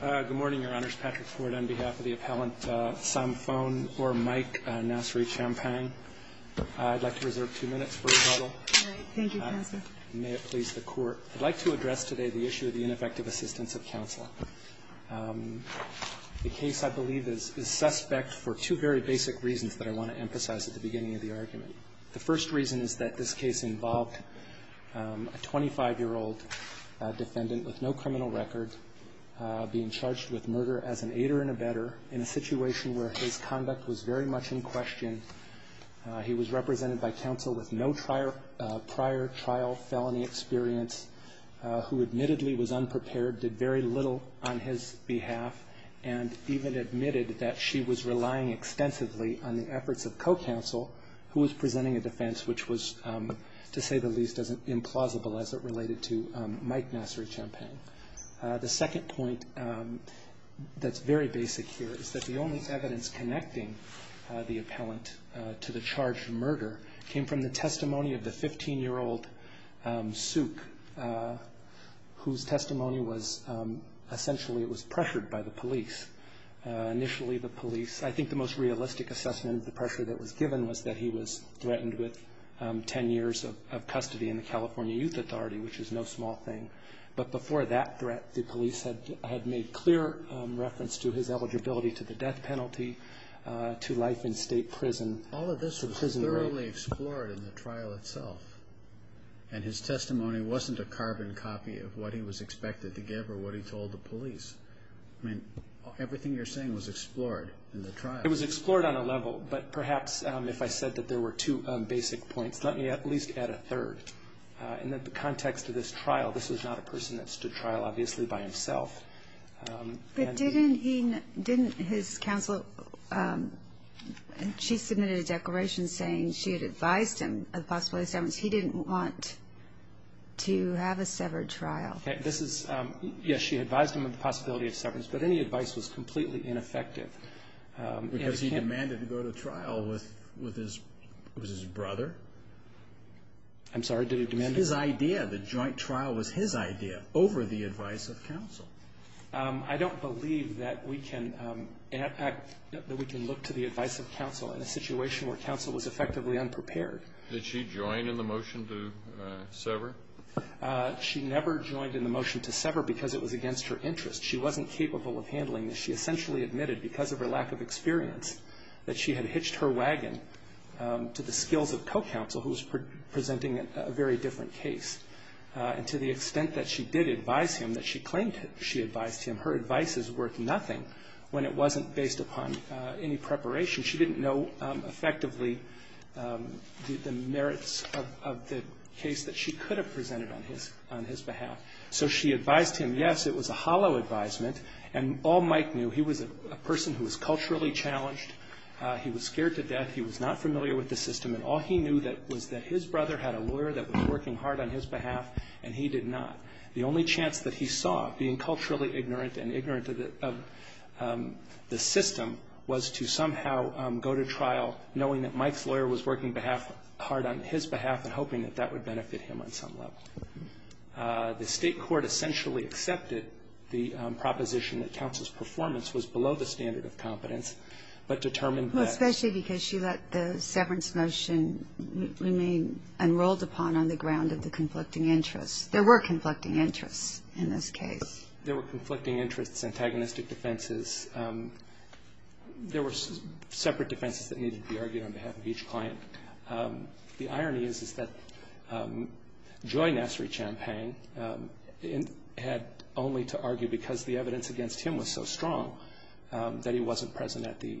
Good morning, Your Honors. Patrick Ford on behalf of the appellant Samphone or Mike Nasserichampang. I'd like to reserve two minutes for rebuttal. All right. Thank you, Counselor. May it please the Court. I'd like to address today the issue of the ineffective assistance of counsel. The case, I believe, is suspect for two very basic reasons that I want to emphasize at the beginning of the argument. The first reason is that this case involved a 25-year-old defendant with no criminal record. Being charged with murder as an aider and abetter in a situation where his conduct was very much in question. He was represented by counsel with no prior trial felony experience, who admittedly was unprepared, did very little on his behalf, and even admitted that she was relying extensively on the efforts of co-counsel, who was presenting a defense which was, to say the least, implausible as it related to Mike Nasserichampang. The second point that's very basic here is that the only evidence connecting the appellant to the charged murder came from the testimony of the 15-year-old souk, whose testimony was essentially it was pressured by the police. Initially, the police, I think the most realistic assessment of the pressure that was given was that he was threatened with 10 years of custody in the California Youth Authority, which is no small thing. But before that threat, the police had made clear reference to his eligibility to the death penalty, to life in state prison. All of this was thoroughly explored in the trial itself. And his testimony wasn't a carbon copy of what he was expected to give or what he told the police. I mean, everything you're saying was explored in the trial. It was explored on a level, but perhaps if I said that there were two basic points, let me at least add a third. In the context of this trial, this was not a person that stood trial, obviously, by himself. But didn't his counsel, she submitted a declaration saying she had advised him of the possibility of severance. He didn't want to have a severed trial. Yes, she advised him of the possibility of severance, but any advice was completely ineffective. Because he demanded to go to trial with his brother? I'm sorry. Did he demand it? His idea. The joint trial was his idea over the advice of counsel. I don't believe that we can look to the advice of counsel in a situation where counsel was effectively unprepared. Did she join in the motion to sever? She never joined in the motion to sever because it was against her interest. She wasn't capable of handling this. She essentially admitted because of her lack of experience that she had hitched her wagon to the skills of co-counsel, who was presenting a very different case. And to the extent that she did advise him, that she claimed she advised him, her advice is worth nothing when it wasn't based upon any preparation. She didn't know effectively the merits of the case that she could have presented on his behalf. So she advised him. Yes, it was a hollow advisement. And all Mike knew, he was a person who was culturally challenged. He was scared to death. He was not familiar with the system. And all he knew was that his brother had a lawyer that was working hard on his behalf, and he did not. The only chance that he saw of being culturally ignorant and ignorant of the system was to somehow go to trial knowing that Mike's lawyer was working hard on his behalf and hoping that that would benefit him on some level. The State court essentially accepted the proposition that counsel's performance was below the standard of competence, but determined that. Especially because she let the severance motion remain unrolled upon on the ground of the conflicting interests. There were conflicting interests in this case. There were conflicting interests, antagonistic defenses. There were separate defenses that needed to be argued on behalf of each client. The irony is, is that Joy Nassery Champagne had only to argue because the evidence against him was so strong that he wasn't present at the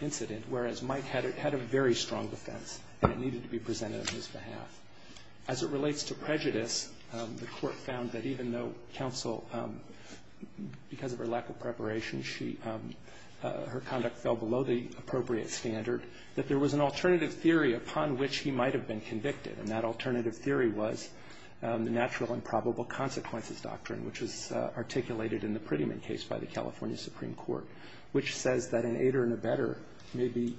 incident. Whereas Mike had a very strong defense that it needed to be presented on his behalf. As it relates to prejudice, the court found that even though counsel, because of her lack of preparation, her conduct fell below the appropriate standard, that there was an alternative theory upon which he might have been convicted. And that alternative theory was the natural and probable consequences doctrine, which was articulated in the Prettyman case by the California Supreme Court, which says that an aider and abetter may be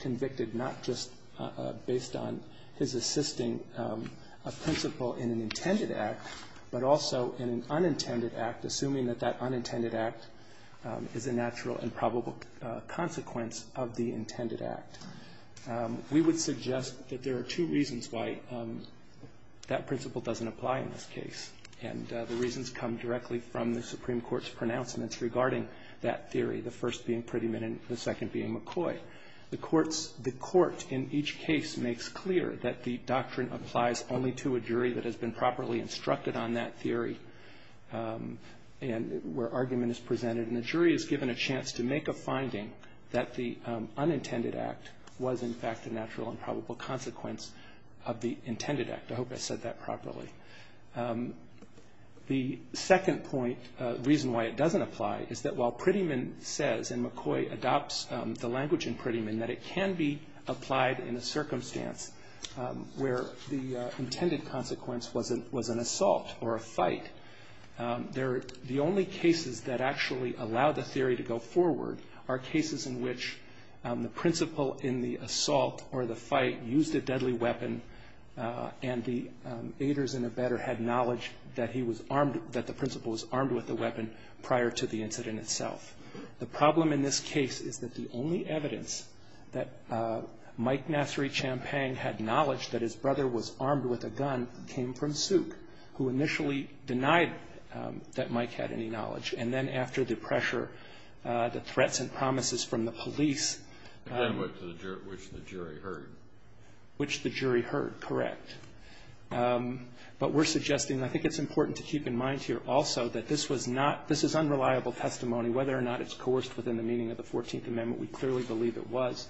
convicted not just based on his assisting a principal in an intended act, but also in an unintended act, is a natural and probable consequence of the intended act. We would suggest that there are two reasons why that principle doesn't apply in this case. And the reasons come directly from the Supreme Court's pronouncements regarding that theory, the first being Prettyman and the second being McCoy. The court in each case makes clear that the doctrine applies only to a jury that has been And the jury is given a chance to make a finding that the unintended act was in fact a natural and probable consequence of the intended act. I hope I said that properly. The second point, reason why it doesn't apply, is that while Prettyman says, and McCoy adopts the language in Prettyman, that it can be applied in a circumstance where the intended consequence was an assault or a fight, the only cases that actually allow the theory to go forward are cases in which the principal in the assault or the fight used a deadly weapon and the aiders and abetter had knowledge that he was armed, that the principal was armed with the weapon prior to the incident itself. The problem in this case is that the only evidence that Mike Nassery Champagne had knowledge that his brother was armed with a gun came from Suk, who initially denied that Mike had any knowledge. And then after the pressure, the threats and promises from the police Again, which the jury heard. Which the jury heard, correct. But we're suggesting, and I think it's important to keep in mind here also, that this was not, this is unreliable testimony. Whether or not it's coerced within the meaning of the Fourteenth Amendment, we clearly believe it was.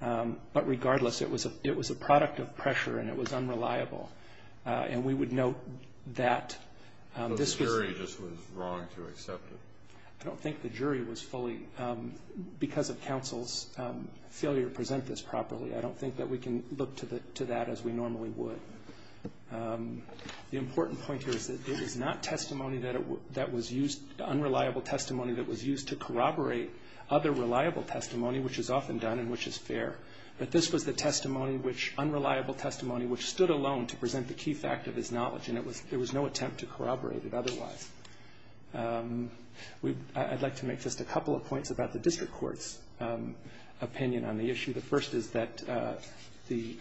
But regardless, it was a product of pressure and it was unreliable. And we would note that this was... But the jury just was wrong to accept it. I don't think the jury was fully, because of counsel's failure to present this properly, I don't think that we can look to that as we normally would. The important point here is that it is not testimony that was used, unreliable testimony that was used to corroborate other reliable testimony, which is often done and which is fair. But this was the testimony, unreliable testimony, which stood alone to present the key fact of his knowledge. And it was, there was no attempt to corroborate it otherwise. I'd like to make just a couple of points about the district court's opinion on the issue. The first is that the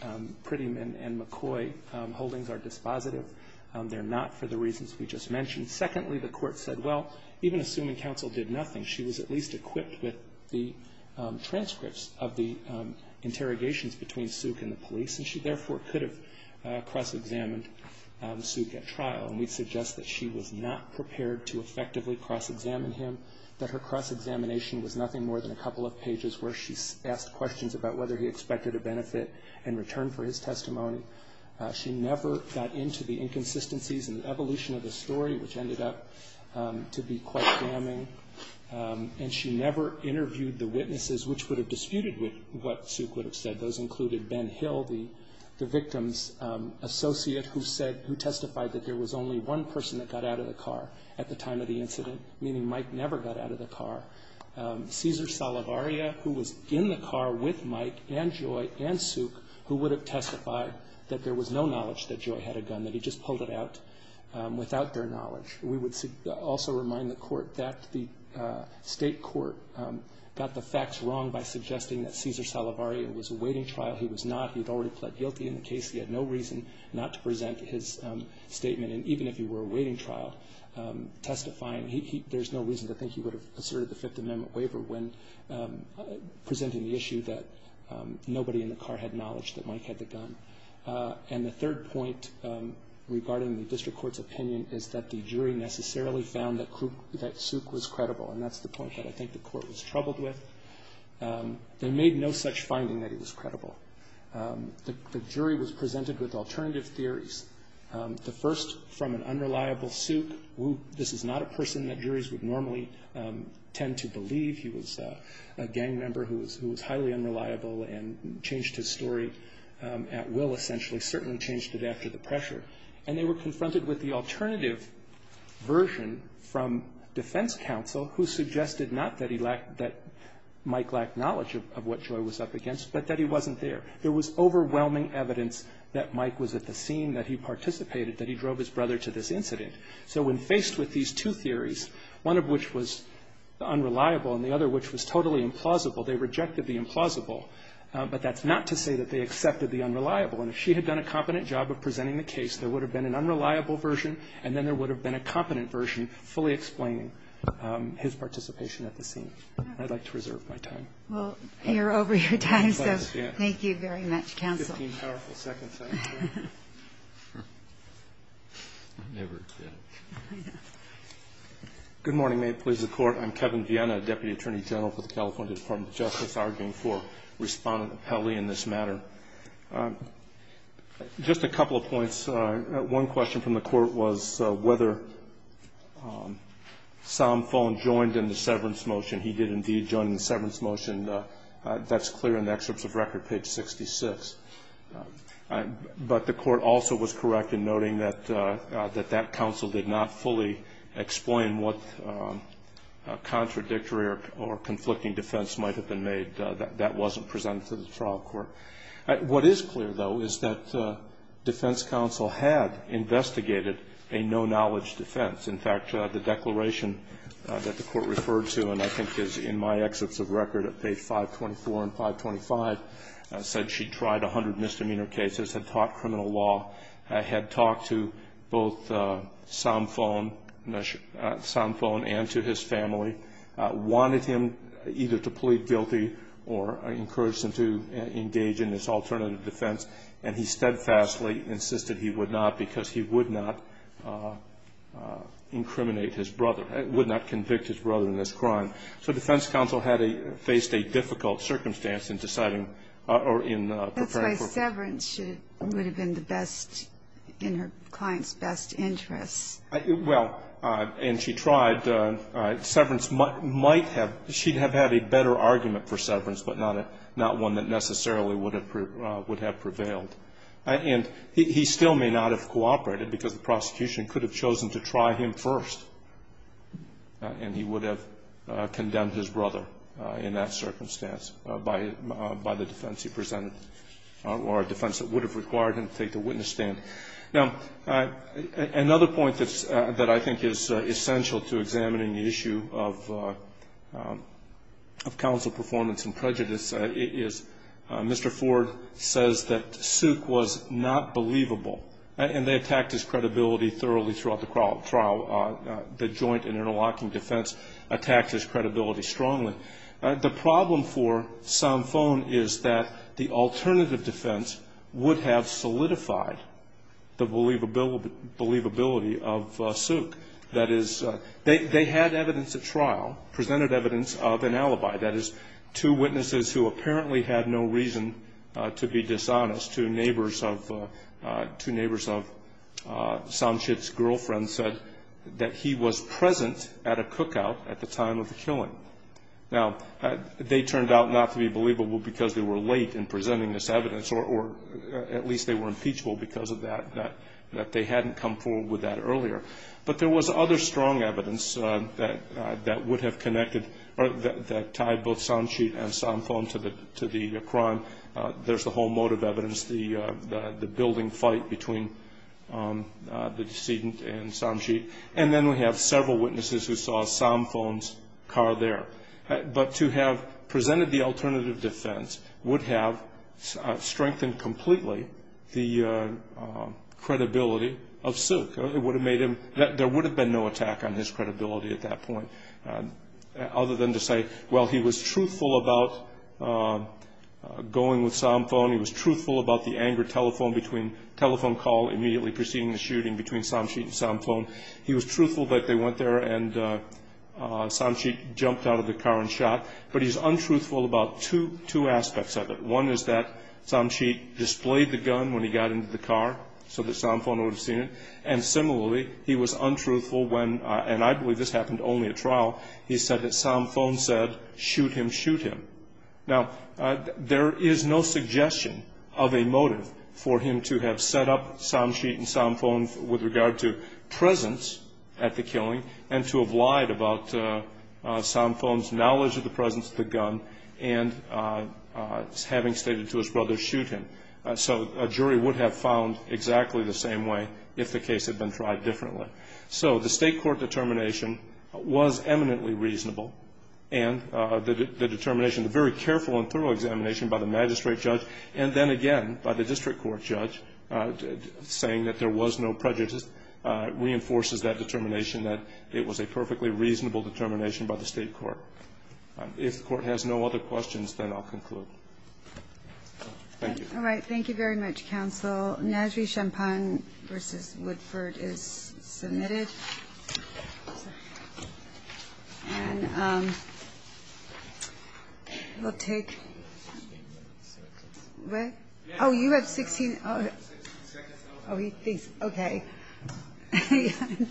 Prettyman and McCoy holdings are dispositive. They're not for the reasons we just mentioned. Secondly, the court said, well, even assuming counsel did nothing, she was at least equipped with the transcripts of the interrogations between Suk and the police, and she therefore could have cross-examined Suk at trial. And we suggest that she was not prepared to effectively cross-examine him, that her cross-examination was nothing more than a couple of pages where she asked questions about whether he expected a benefit in return for his testimony. She never got into the inconsistencies in the evolution of the story, which ended up to be quite damning. And she never interviewed the witnesses which would have disputed with what Suk would have said. Those included Ben Hill, the victim's associate who said, who testified that there was only one person that got out of the car at the time of the incident, meaning Mike never got out of the car. Cesar Salavaria, who was in the car with Mike and Joy and Suk, who would have testified that there was no knowledge that Joy had a gun, that he just pulled it out without their knowledge. We would also remind the court that the state court got the facts wrong by suggesting that Cesar Salavaria was awaiting trial. He was not. He had already pled guilty in the case. He had no reason not to present his statement. And even if he were awaiting trial, testifying, there's no reason to think he would have asserted the Fifth Amendment waiver when presenting the issue that nobody in the car had knowledge that Mike had the gun. And the third point regarding the district court's opinion is that the jury necessarily found that Suk was credible. And that's the point that I think the court was troubled with. They made no such finding that he was credible. The jury was presented with alternative theories. The first from an unreliable Suk, who this is not a person that juries would normally tend to believe. He was a gang member who was highly unreliable and changed his story at will, essentially, certainly changed it after the pressure. And they were confronted with the alternative version from defense counsel, who suggested not that Mike lacked knowledge of what Joy was up against, but that he wasn't there. There was overwhelming evidence that Mike was at the scene, that he participated, that he drove his brother to this incident. So when faced with these two theories, one of which was unreliable and the other which was totally implausible, they rejected the implausible. But that's not to say that they accepted the unreliable. And if she had done a competent job of presenting the case, there would have been an unreliable version, and then there would have been a competent version fully explaining his participation at the scene. I'd like to reserve my time. Well, you're over your time, so thank you very much, counsel. Fifteen powerful seconds, I'm sure. I never did. Good morning. May it please the Court. I'm Kevin Viena, Deputy Attorney General for the California Department of Justice, arguing for respondent appellee in this matter. Just a couple of points. One question from the Court was whether Somfone joined in the severance motion. He did indeed join in the severance motion. That's clear in the excerpts of record, page 66. But the Court also was correct in noting that that counsel did not fully explain what contradictory or conflicting defense might have been made. That wasn't presented to the trial court. What is clear, though, is that defense counsel had investigated a no-knowledge defense. In fact, the declaration that the Court referred to, and I think is in my excerpts of record at page 524 and 525, said she'd tried 100 misdemeanor cases, had taught criminal law, had talked to both Somfone and to his family, wanted him either to plead guilty or encouraged him to engage in this alternative defense, and he steadfastly insisted he would not because he would not incriminate his brother, would not convict his brother in this crime. So defense counsel had faced a difficult circumstance in deciding or in preparing for her. That's why severance would have been the best, in her client's best interest. Well, and she tried. Severance might have, she'd have had a better argument for severance, but not one that necessarily would have prevailed. And he still may not have cooperated because the prosecution could have chosen to try him first, and he would have condemned his brother in that circumstance by the defense he presented, or a defense that would have required him to take the witness stand. Now, another point that I think is essential to examining the issue of counsel performance and prejudice is Mr. Ford says that Suk was not believable, and they attacked his credibility thoroughly throughout the trial. The joint and interlocking defense attacked his credibility strongly. The problem for Somfone is that the alternative defense would have solidified the believability of Suk. That is, they had evidence at trial, presented evidence of an alibi. That is, two witnesses who apparently had no reason to be dishonest, two neighbors of Somchit's girlfriend, said that he was present at a cookout at the time of the killing. Now, they turned out not to be believable because they were late in presenting this evidence, or at least they were impeachable because of that, that they hadn't come forward with that earlier. But there was other strong evidence that would have connected or that tied both Somchit and Somfone to the crime. There's the whole motive evidence, the building fight between the decedent and Somchit. And then we have several witnesses who saw Somfone's car there. But to have presented the alternative defense would have strengthened completely the credibility of Suk. There would have been no attack on his credibility at that point, other than to say, well, he was truthful about going with Somfone. He was truthful about the anger telephone call immediately preceding the shooting between Somchit and Somfone. He was truthful that they went there and Somchit jumped out of the car and shot. But he's untruthful about two aspects of it. One is that Somchit displayed the gun when he got into the car, so that Somfone would have seen it. And similarly, he was untruthful when, and I believe this happened only at trial, he said that Somfone said, shoot him, shoot him. Now, there is no suggestion of a motive for him to have set up Somchit and Somfone with regard to presence at the killing and to have lied about Somfone's knowledge of the presence of the gun and having stated to his brother, shoot him. So a jury would have found exactly the same way if the case had been tried differently. So the state court determination was eminently reasonable. And the determination, the very careful and thorough examination by the magistrate judge and then again by the district court judge, saying that there was no prejudice, reinforces that determination that it was a perfectly reasonable determination by the state court. If the court has no other questions, then I'll conclude. Thank you. All right. Thank you very much, counsel. Nazary-Champagne v. Woodford is submitted. And we'll take what? Oh, you have 16. Oh, he thinks. Okay.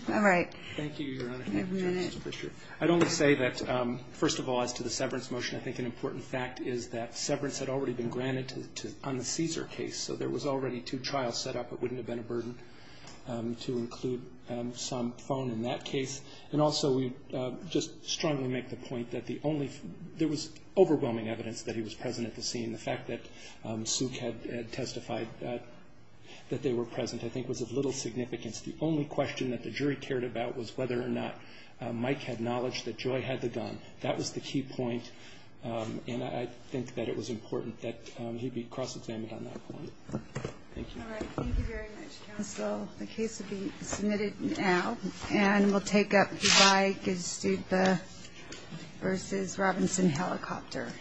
All right. Thank you, Your Honor. I'd only say that, first of all, as to the severance motion, I think an important fact is that severance had already been granted on the Cesar case. So there was already two trials set up. It wouldn't have been a burden to include some phone in that case. And also we just strongly make the point that there was overwhelming evidence that he was present at the scene. The fact that Suk had testified that they were present, I think, was of little significance. The only question that the jury cared about was whether or not Mike had knowledge that Joy had the gun. That was the key point. And I think that it was important that he be cross-examined on that point. Thank you. All right. Thank you very much, counsel. The case will be submitted now. And we'll take up Dubai-Gestupa v. Robinson Helicopter.